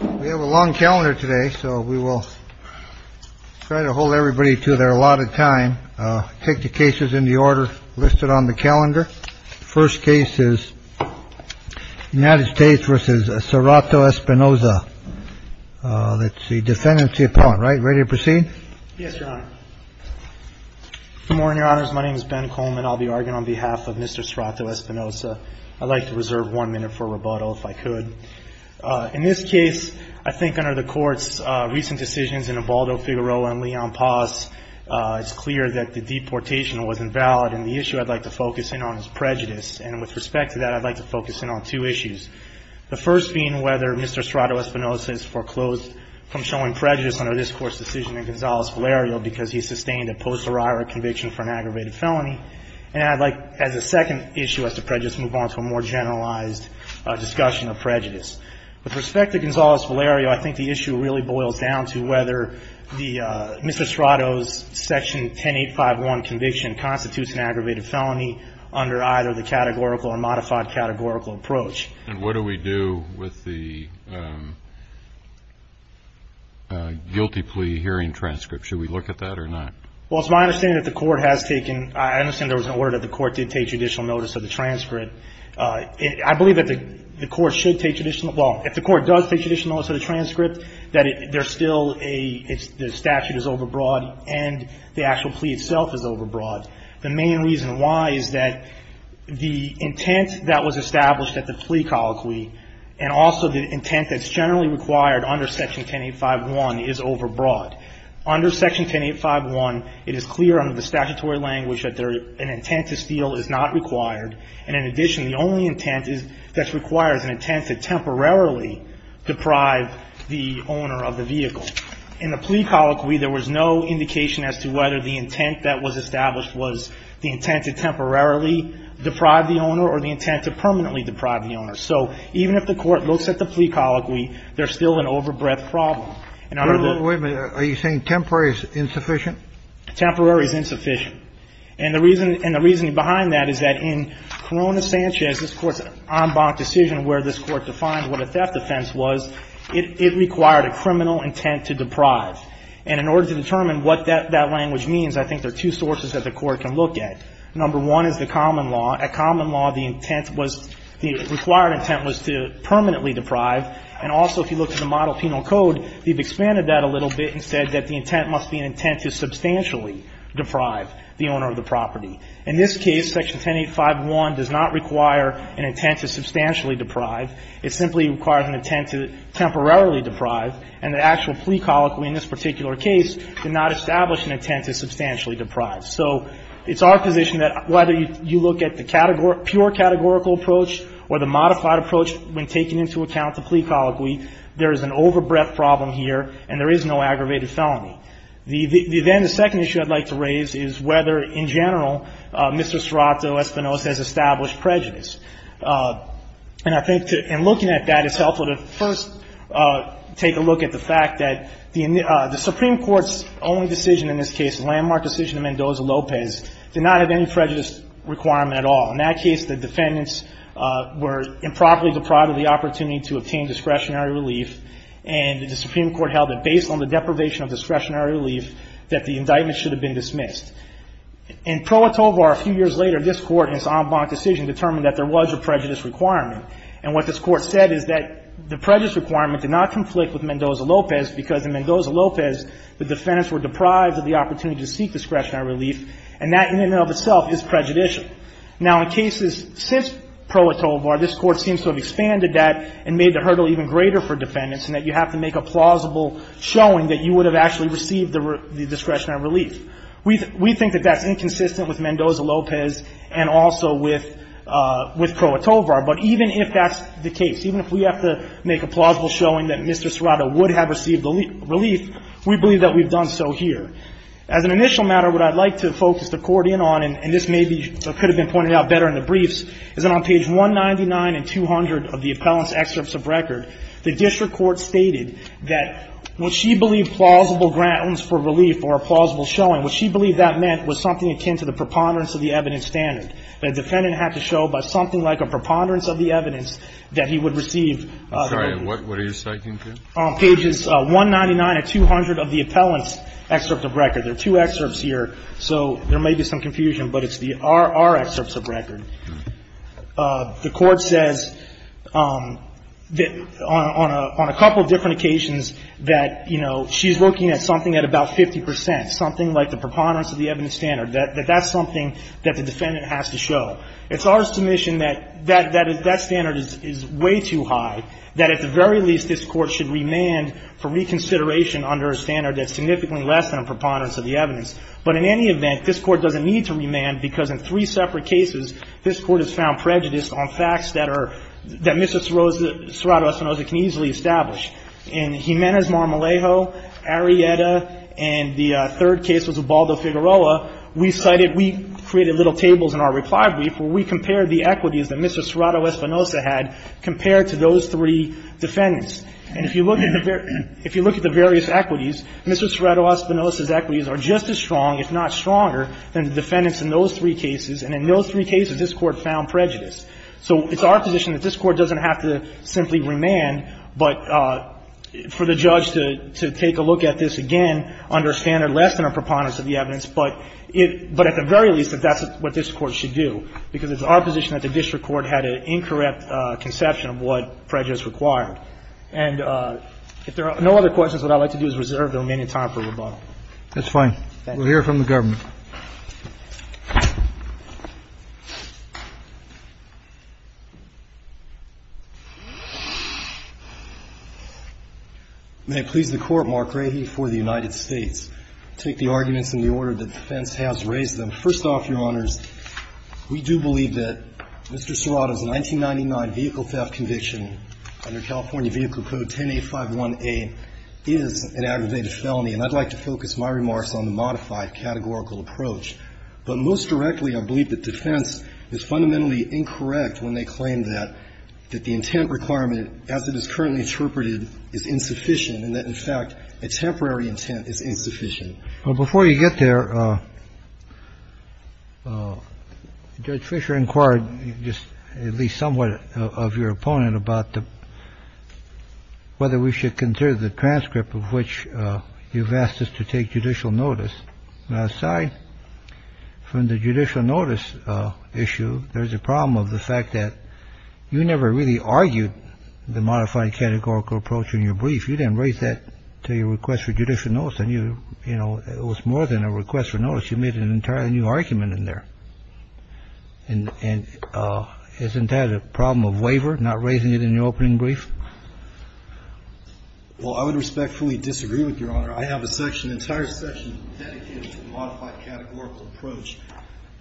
We have a long calendar today, so we will try to hold everybody to their allotted time. Take the cases in the order listed on the calendar. First case is United States versus Serrato-Espinoza. That's the defendants upon. Right. Ready to proceed. Yes, Your Honor. Good morning, Your Honors. My name is Ben Coleman. I'll be arguing on behalf of Mr. Serrato-Espinoza. I'd like to reserve one minute for rebuttal, if I could. In this case, I think under the Court's recent decisions in Obaldo-Figueroa and Leon Paz, it's clear that the deportation was invalid. And the issue I'd like to focus in on is prejudice. And with respect to that, I'd like to focus in on two issues. The first being whether Mr. Serrato-Espinoza is foreclosed from showing prejudice under this Court's decision in Gonzalez-Valerio because he sustained a posteriori conviction for an aggravated felony. And I'd like, as a second issue as to prejudice, move on to a more generalized discussion of prejudice. With respect to Gonzalez-Valerio, I think the issue really boils down to whether Mr. Serrato's Section 10851 conviction constitutes an aggravated felony under either the categorical or modified categorical approach. And what do we do with the guilty plea hearing transcript? Should we look at that or not? Well, it's my understanding that the Court has taken – I understand there was an order that the Court did take judicial notice of the transcript. I believe that the Court should take judicial – well, if the Court does take judicial notice of the transcript, that there's still a – the statute is overbroad and the actual plea itself is overbroad. The main reason why is that the intent that was established at the plea colloquy and also the intent that's it is clear under the statutory language that an intent to steal is not required. And in addition, the only intent that's required is an intent to temporarily deprive the owner of the vehicle. In the plea colloquy, there was no indication as to whether the intent that was established was the intent to temporarily deprive the owner or the intent to permanently deprive the owner. So even if the Court looks at the plea colloquy, there's still an overbreadth problem. Wait a minute. Are you saying temporary is insufficient? Temporary is insufficient. And the reason – and the reasoning behind that is that in Corona-Sanchez, this Court's en banc decision where this Court defined what a theft offense was, it required a criminal intent to deprive. And in order to determine what that language means, I think there are two sources that the Court can look at. Number one is the common law. At common law, the intent was – the required intent was to permanently deprive. And also, if you look at the model penal code, we've expanded that a little bit and said that the intent must be an intent to substantially deprive the owner of the property. In this case, Section 10851 does not require an intent to substantially deprive. It simply requires an intent to temporarily deprive. And the actual plea colloquy in this particular case did not establish an intent to substantially deprive. So it's our position that whether you look at the pure categorical approach or the modified approach when taking into account the plea colloquy, there is an overbreadth problem here and there is no aggravated felony. The – then the second issue I'd like to raise is whether, in general, Mr. Serrato Espinosa has established prejudice. And I think to – and looking at that, it's helpful to first take a look at the fact that the Supreme Court's only decision in this case, the landmark decision of Mendoza-Lopez, did not have any prejudice requirement at all. In that case, the defendants were improperly deprived of the opportunity to obtain discretionary relief, and the Supreme Court held that based on the deprivation of discretionary relief, that the indictment should have been dismissed. In Pro Atovar, a few years later, this Court in its en banc decision determined that there was a prejudice requirement. And what this Court said is that the prejudice requirement did not conflict with Mendoza-Lopez because in Mendoza-Lopez, the defendants were deprived of the opportunity to seek discretionary relief, and that in and of itself is prejudicial. Now, in cases since Pro Atovar, this Court seems to have expanded that and made the hurdle even greater for defendants in that you have to make a plausible showing that you would have actually received the discretionary relief. We think that that's inconsistent with Mendoza-Lopez and also with Pro Atovar. But even if that's the case, even if we have to make a plausible showing that Mr. Serrato would have received the relief, we believe that we've done so here. As an initial matter, what I'd like to focus the Court in on, and this may be or could have been pointed out better in the briefs, is that on page 199 and 200 of the appellant's excerpts of record, the district court stated that what she believed plausible grounds for relief or a plausible showing, what she believed that meant was something akin to the preponderance of the evidence standard. That a defendant had to show by something like a preponderance of the evidence that he would receive relief. I'm sorry, what are you speaking to? On pages 199 and 200 of the appellant's excerpt of record. There are two excerpts here, so there may be some confusion, but it's our excerpts of record. The Court says that on a couple of different occasions that, you know, she's looking at something at about 50 percent. Something like the preponderance of the evidence standard. That that's something that the defendant has to show. It's our submission that that standard is way too high, that at the very least this Court should remand for reconsideration under a standard that's significantly less than a preponderance of the evidence. But in any event, this Court doesn't need to remand because in three separate cases, this Court has found prejudice on facts that are that Mr. Serrato-Espinosa can easily establish. In Jimenez-Marmolejo, Arrieta, and the third case was Ubaldo-Figueroa, we cited, we created little tables in our reply brief. We compared the equities that Mr. Serrato-Espinosa had compared to those three defendants. And if you look at the various equities, Mr. Serrato-Espinosa's equities are just as strong, if not stronger, than the defendants in those three cases, and in those three cases, this Court found prejudice. So it's our position that this Court doesn't have to simply remand, but for the judge to take a look at this again under a standard less than a preponderance of the evidence, but at the very least, if that's what this Court should do, because it's our position that the district court had an incorrect conception of what prejudice required. And if there are no other questions, what I'd like to do is reserve the remaining time for rebuttal. Roberts. That's fine. We'll hear from the government. May it please the Court, Mark Rahe for the United States. I'll take the arguments in the order that defense has raised them. First off, Your Honors, we do believe that Mr. Serrato's 1999 vehicle theft conviction under California Vehicle Code 10851A is an aggravated felony, and I'd like to focus my remarks on the modified categorical approach. But most directly, I believe that defense is fundamentally incorrect when they claim that the intent requirement, as it is currently interpreted, is insufficient and that, in fact, a temporary intent is insufficient. Well, before you get there, Judge Fischer inquired just at least somewhat of your opponent about whether we should consider the transcript of which you've asked us to take judicial notice. Now, aside from the judicial notice issue, there's a problem of the fact that you never really argued the modified categorical approach in your brief. You didn't raise that to your request for judicial notice. And you, you know, it was more than a request for notice. You made an entirely new argument in there. And isn't that a problem of waiver, not raising it in your opening brief? Well, I would respectfully disagree with Your Honor. I have a section, an entire section dedicated to the modified categorical approach.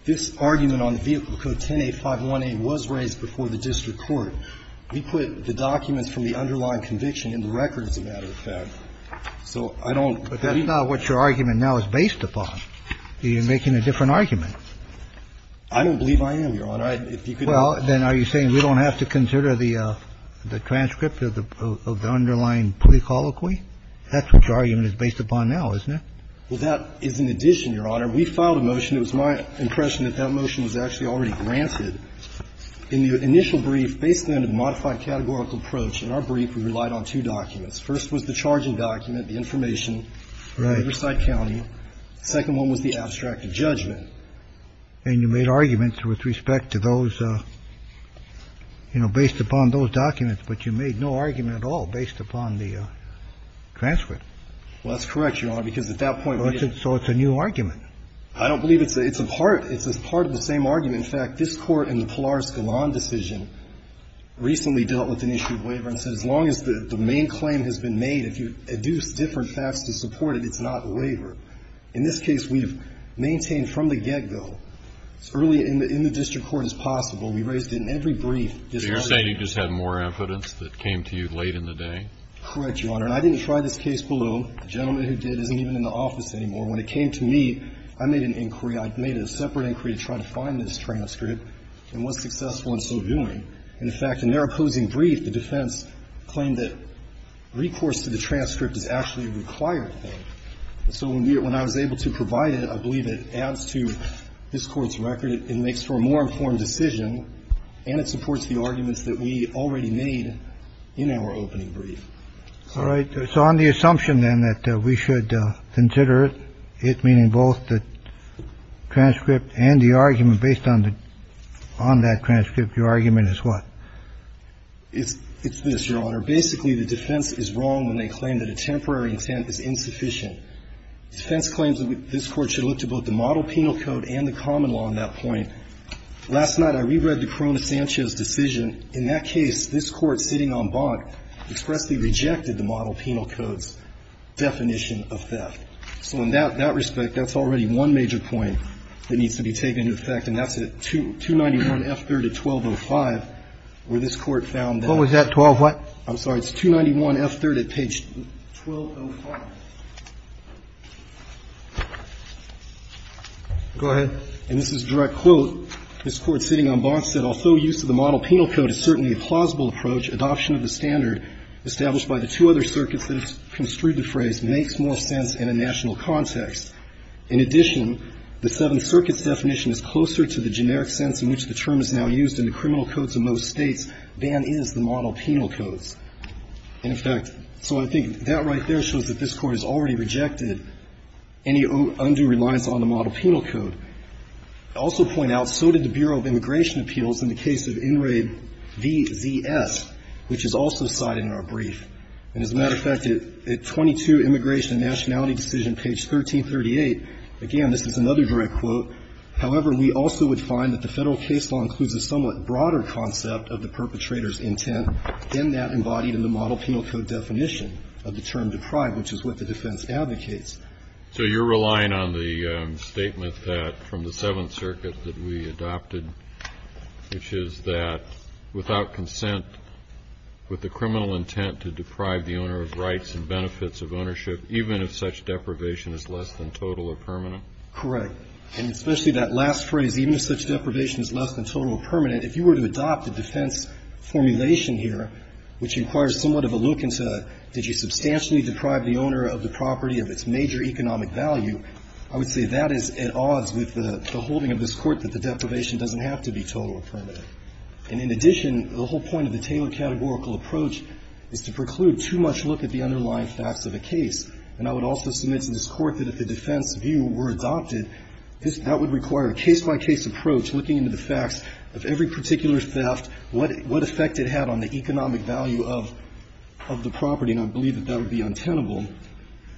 This argument on the Vehicle Code 10851A was raised before the district court. We put the documents from the underlying conviction in the record, as a matter of fact. So I don't, but that is not what your argument now is based upon. You're making a different argument. I don't believe I am, Your Honor. I, if you could help me. Well, then are you saying we don't have to consider the transcript of the underlying plea colloquy? That's what your argument is based upon now, isn't it? Well, that is an addition, Your Honor. We filed a motion. It was my impression that that motion was actually already granted. In the initial brief, based on the modified categorical approach, in our brief, we relied on two documents. First was the charging document, the information. Right. Riverside County. The second one was the abstract judgment. And you made arguments with respect to those, you know, based upon those documents, but you made no argument at all based upon the transcript. Well, that's correct, Your Honor, because at that point we didn't. So it's a new argument. I don't believe it's a part. It's a part of the same argument. In fact, this Court in the Polaris-Gallon decision recently dealt with an issue of waiver and said as long as the main claim has been made, if you deduce different facts to support it, it's not waiver. In this case, we've maintained from the get-go, as early in the district court as possible, we raised it in every brief. So you're saying you just had more evidence that came to you late in the day? Correct, Your Honor. And I didn't try this case below. The gentleman who did isn't even in the office anymore. When it came to me, I made an inquiry. I made a separate inquiry to try to find this transcript and was successful in so doing. And, in fact, in their opposing brief, the defense claimed that recourse to the transcript is actually a required thing. So when I was able to provide it, I believe it adds to this Court's record. It makes for a more informed decision, and it supports the arguments that we already made in our opening brief. All right. So on the assumption, then, that we should consider it, meaning both the transcript and the argument based on that transcript, your argument is what? It's this, Your Honor. Basically, the defense is wrong when they claim that a temporary intent is insufficient. The defense claims that this Court should look to both the model penal code and the common law on that point. Last night, I reread the Corona-Sanchez decision. And in that case, this Court, sitting on Bonk, expressly rejected the model penal code's definition of theft. So in that respect, that's already one major point that needs to be taken into effect, and that's at 291F3rd at 1205, where this Court found that. What was that, 1205? I'm sorry. It's 291F3rd at page 1205. Go ahead. And this is a direct quote. This Court, sitting on Bonk, said, Although use of the model penal code is certainly a plausible approach, adoption of the standard established by the two other circuits that have construed the phrase makes more sense in a national context. In addition, the Seventh Circuit's definition is closer to the generic sense in which the term is now used in the criminal codes of most States than is the model penal codes. And, in fact, so I think that right there shows that this Court has already rejected any undue reliance on the model penal code. I'll also point out, so did the Bureau of Immigration Appeals in the case of in raid VZS, which is also cited in our brief. And as a matter of fact, at 22 Immigration and Nationality Decision, page 1338, again, this is another direct quote, However, we also would find that the Federal case law includes a somewhat broader concept of the perpetrator's intent than that embodied in the model penal code definition of the term deprived, which is what the defense advocates. So you're relying on the statement that from the Seventh Circuit that we adopted, which is that without consent with the criminal intent to deprive the owner of rights and benefits of ownership, even if such deprivation is less than total or permanent? Correct. And especially that last phrase, even if such deprivation is less than total or permanent, if you were to adopt a defense formulation here, which requires somewhat of a look into did you substantially deprive the owner of the property of its major economic value, I would say that is at odds with the holding of this Court that the deprivation doesn't have to be total or permanent. And in addition, the whole point of the Taylor categorical approach is to preclude too much look at the underlying facts of a case. And I would also submit to this Court that if the defense view were adopted, that would require a case-by-case approach looking into the facts of every particular theft, what effect it had on the economic value of the property. And I believe that that would be untenable.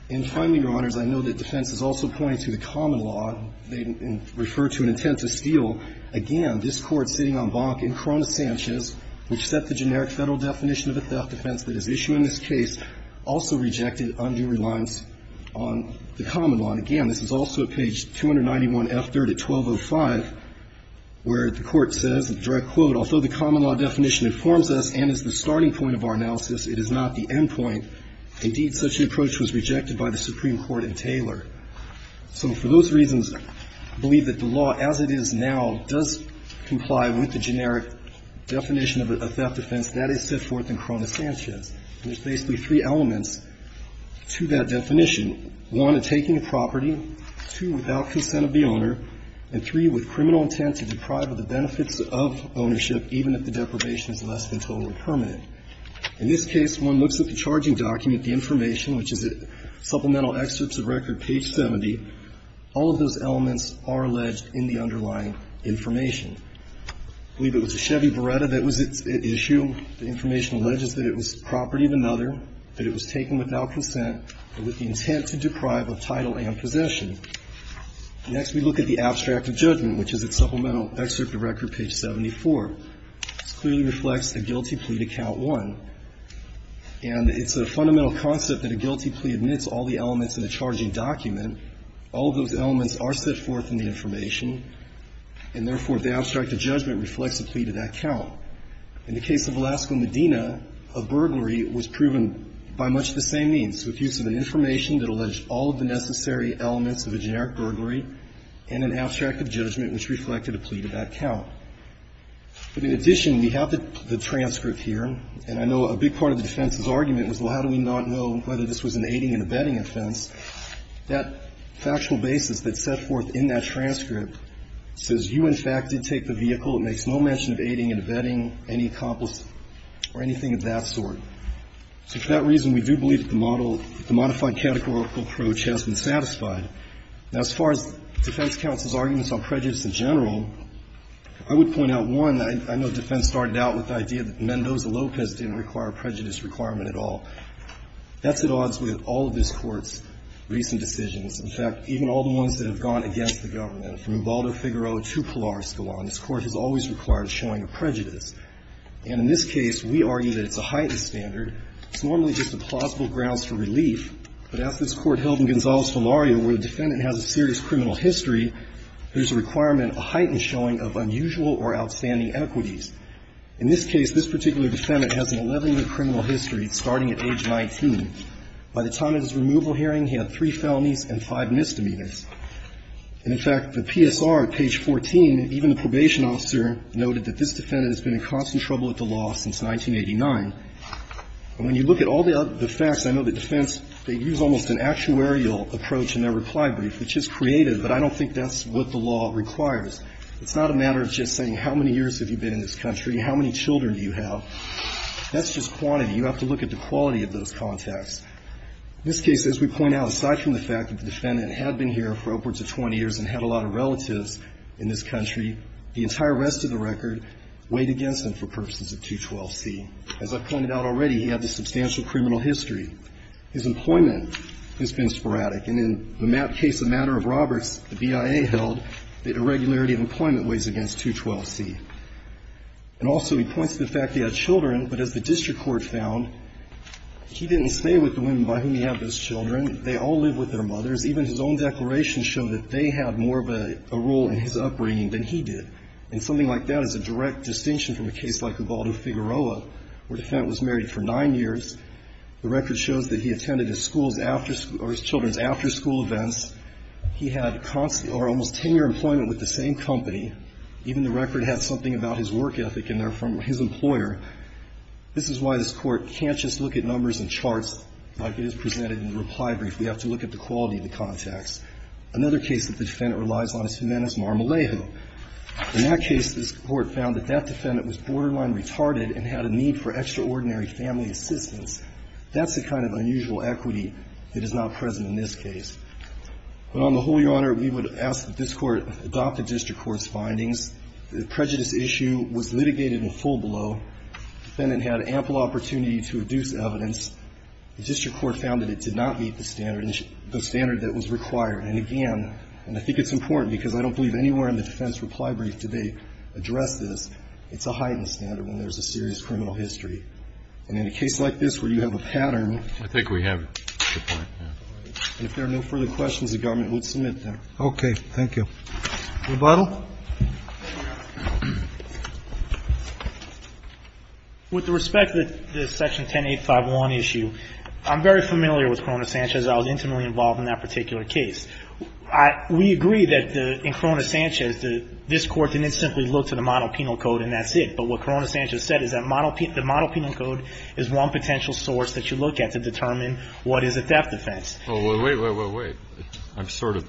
And finally, Your Honors, I know that defense is also pointing to the common law. They refer to an intent to steal. Again, this Court sitting on Bonk and Cronus Sanchez, which set the generic Federal definition of a theft defense that is issued in this case, also rejected undue reliance on the common law. And again, this is also at page 291F3 at 1205, where the Court says, direct quote, although the common law definition informs us and is the starting point of our analysis, it is not the end point. Indeed, such an approach was rejected by the Supreme Court in Taylor. So for those reasons, I believe that the law as it is now does comply with the generic definition of a theft defense that is set forth in Cronus Sanchez. And there's basically three elements to that definition. One, a taking of property. Two, without consent of the owner. And three, with criminal intent to deprive of the benefits of ownership, even if the deprivation is less than total or permanent. In this case, one looks at the charging document, the information, which is at Supplemental Excerpts of Record, page 70. All of those elements are alleged in the underlying information. I believe it was a Chevy Beretta that was at issue. The information alleges that it was property of another, that it was taken without consent, and with the intent to deprive of title and possession. Next, we look at the abstract of judgment, which is at Supplemental Excerpts of Record, page 74. This clearly reflects a guilty plea to count one. And it's a fundamental concept that a guilty plea admits all the elements in a charging document. All of those elements are set forth in the information. And therefore, the abstract of judgment reflects a plea to that count. In the case of Velasco Medina, a burglary was proven by much the same means, with an information that alleged all of the necessary elements of a generic burglary and an abstract of judgment which reflected a plea to that count. But in addition, we have the transcript here. And I know a big part of the defense's argument was, well, how do we not know whether this was an aiding and abetting offense? That factual basis that's set forth in that transcript says you, in fact, did take the vehicle. It makes no mention of aiding and abetting any accomplice or anything of that sort. So for that reason, we do believe that the model, the modified categorical approach has been satisfied. Now, as far as defense counsel's arguments on prejudice in general, I would point out, one, I know defense started out with the idea that Mendoza-Lopez didn't require a prejudice requirement at all. That's at odds with all of this Court's recent decisions. In fact, even all the ones that have gone against the government, from Ibaldo Figueroa And in this case, we argue that it's a heightened standard. It's normally just a plausible grounds for relief. But as this Court held in Gonzalez-Filario, where the defendant has a serious criminal history, there's a requirement, a heightened showing of unusual or outstanding equities. In this case, this particular defendant has an 11-year criminal history, starting at age 19. By the time of his removal hearing, he had three felonies and five misdemeanors. And, in fact, the PSR, page 14, even the probation officer noted that this defendant has been in constant trouble with the law since 1989. And when you look at all the facts, I know that defense, they use almost an actuarial approach in their reply brief, which is creative, but I don't think that's what the law requires. It's not a matter of just saying how many years have you been in this country, how many children do you have. That's just quantity. You have to look at the quality of those contacts. In this case, as we point out, aside from the fact that the defendant had been here for upwards of 20 years and had a lot of relatives in this country, the entire rest of the record weighed against him for purposes of 212C. As I've pointed out already, he had a substantial criminal history. His employment has been sporadic. And in the case of Matter of Roberts, the BIA held that irregularity of employment weighs against 212C. And also he points to the fact that he had children, but as the district court found, he didn't stay with the women by whom he had those children. They all lived with their mothers. Even his own declaration showed that they had more of a role in his upbringing than he did. And something like that is a direct distinction from a case like Ubaldo-Figueroa, where the defendant was married for 9 years. The record shows that he attended his school's after or his children's after-school events. He had almost 10-year employment with the same company. Even the record has something about his work ethic in there from his employer. This is why this Court can't just look at numbers and charts like it is presented in the reply brief. We have to look at the quality of the contacts. Another case that the defendant relies on is Jimenez-Marmalejo. In that case, this Court found that that defendant was borderline retarded and had a need for extraordinary family assistance. That's the kind of unusual equity that is not present in this case. But on the whole, Your Honor, we would ask that this Court adopt the district court's findings. The prejudice issue was litigated in full below. The defendant had ample opportunity to reduce evidence. The district court found that it did not meet the standard that was required. And again, and I think it's important because I don't believe anywhere in the defense reply brief did they address this, it's a heightened standard when there's a serious criminal history. And in a case like this where you have a pattern. I think we have it. If there are no further questions, the government would submit them. Okay. Rebuttal? With respect to the section 10851 issue, I'm very familiar with Corona-Sanchez. I was intimately involved in that particular case. We agree that in Corona-Sanchez, this Court didn't simply look to the model penal code and that's it. But what Corona-Sanchez said is that the model penal code is one potential source that you look at to determine what is a theft offense. Well, wait, wait, wait, wait. I'm sort of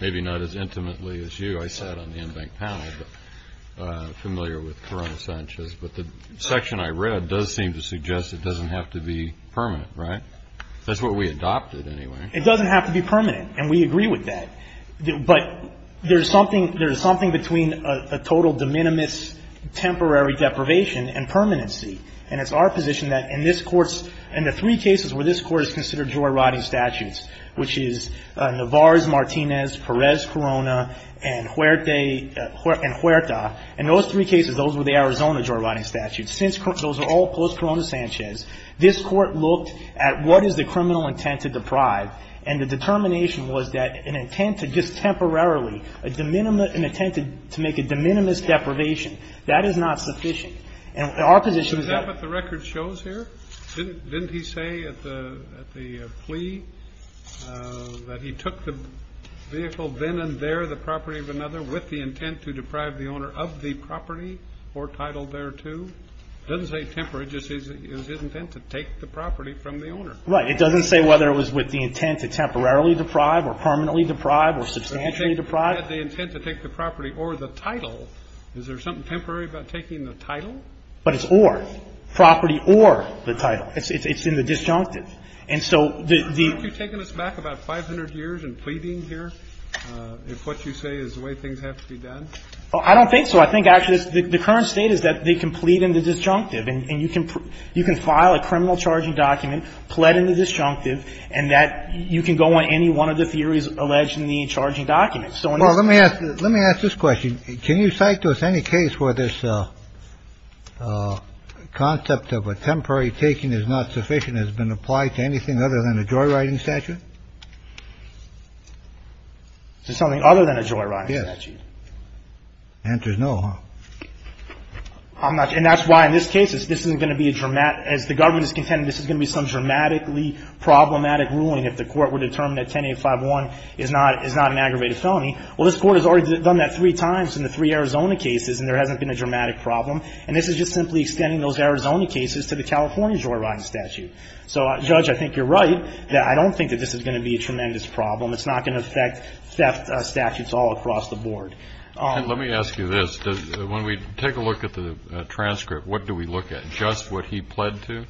maybe not as intimately as you. I sat on the in-bank panel, but I'm familiar with Corona-Sanchez. But the section I read does seem to suggest it doesn't have to be permanent, right? That's what we adopted anyway. It doesn't have to be permanent. And we agree with that. But there's something between a total de minimis temporary deprivation and permanency. And it's our position that in this Court's – in the three cases where this Court has considered joyriding statutes, which is Navarres-Martinez, Perez-Corona, and Huerta, in those three cases, those were the Arizona joyriding statutes. Since those are all post-Corona-Sanchez, this Court looked at what is the criminal intent to deprive. And the determination was that an intent to just temporarily, a de minimis – an intent to make a de minimis deprivation, that is not sufficient. And our position is that – Didn't he say at the plea that he took the vehicle then and there, the property of another, with the intent to deprive the owner of the property or title thereto? It doesn't say temporary. It just says it was his intent to take the property from the owner. Right. It doesn't say whether it was with the intent to temporarily deprive or permanently deprive or substantially deprive. If he had the intent to take the property or the title, is there something temporary about taking the title? But it's or. Property or the title. It's in the disjunctive. And so the – Have you taken us back about 500 years in pleading here if what you say is the way things have to be done? I don't think so. I think actually the current state is that they can plead in the disjunctive, and you can file a criminal charging document, plead in the disjunctive, and that you can go on any one of the theories alleged in the charging documents. So in this case – Well, let me ask this question. Can you cite to us any case where this concept of a temporary taking is not sufficient has been applied to anything other than a joyriding statute? To something other than a joyriding statute? Yes. The answer is no, huh? I'm not – and that's why in this case, this isn't going to be a – as the government is contending, this is going to be some dramatically problematic ruling if the court were determined that 10851 is not an aggravated felony. Well, this Court has already done that three times in the three Arizona cases, and there hasn't been a dramatic problem. And this is just simply extending those Arizona cases to the California joyriding statute. So, Judge, I think you're right that I don't think that this is going to be a tremendous problem. It's not going to affect theft statutes all across the board. Let me ask you this. When we take a look at the transcript, what do we look at? Just what he pled to?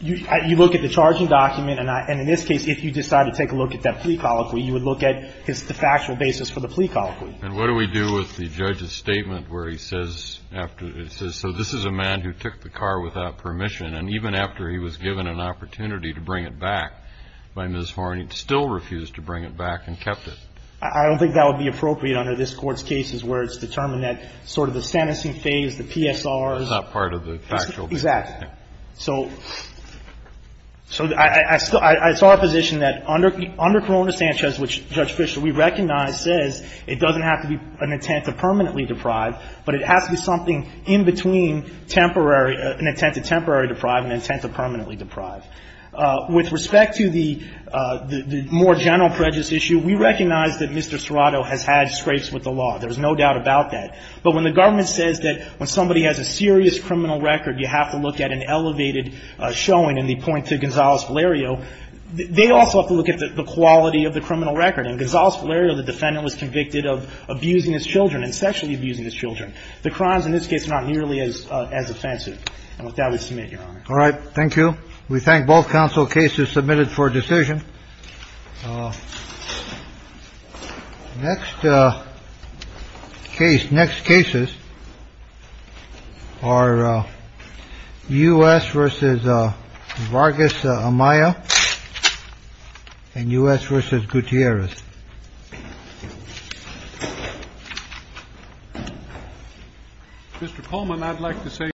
You look at the charging document, and in this case, if you decide to take a look at that plea colloquy, you would look at the factual basis for the plea colloquy. And what do we do with the judge's statement where he says after – it says, so this is a man who took the car without permission, and even after he was given an opportunity to bring it back by Ms. Horne, he still refused to bring it back and kept it. I don't think that would be appropriate under this Court's cases where it's determined that sort of the sentencing phase, the PSRs. That's not part of the factual basis. Exactly. So I saw a position that under Corona-Sanchez, which Judge Fischer, we recognize, says it doesn't have to be an intent to permanently deprive, but it has to be something in between temporary – an intent to temporarily deprive and an intent to permanently deprive. With respect to the more general prejudice issue, we recognize that Mr. Serrato has had scrapes with the law. There's no doubt about that. But when the government says that when somebody has a serious criminal record, you have to look at an elevated showing in the point to Gonzales-Valerio, they also have to look at the quality of the criminal record. In Gonzales-Valerio, the defendant was convicted of abusing his children and sexually abusing his children. The crimes in this case are not nearly as offensive. And with that, we submit, Your Honor. All right. Thank you. We thank both counsel cases submitted for decision. Next case – next cases are U.S. v. Vargas-Amaya and U.S. v. Gutierrez. Mr. Coleman, I'd like to say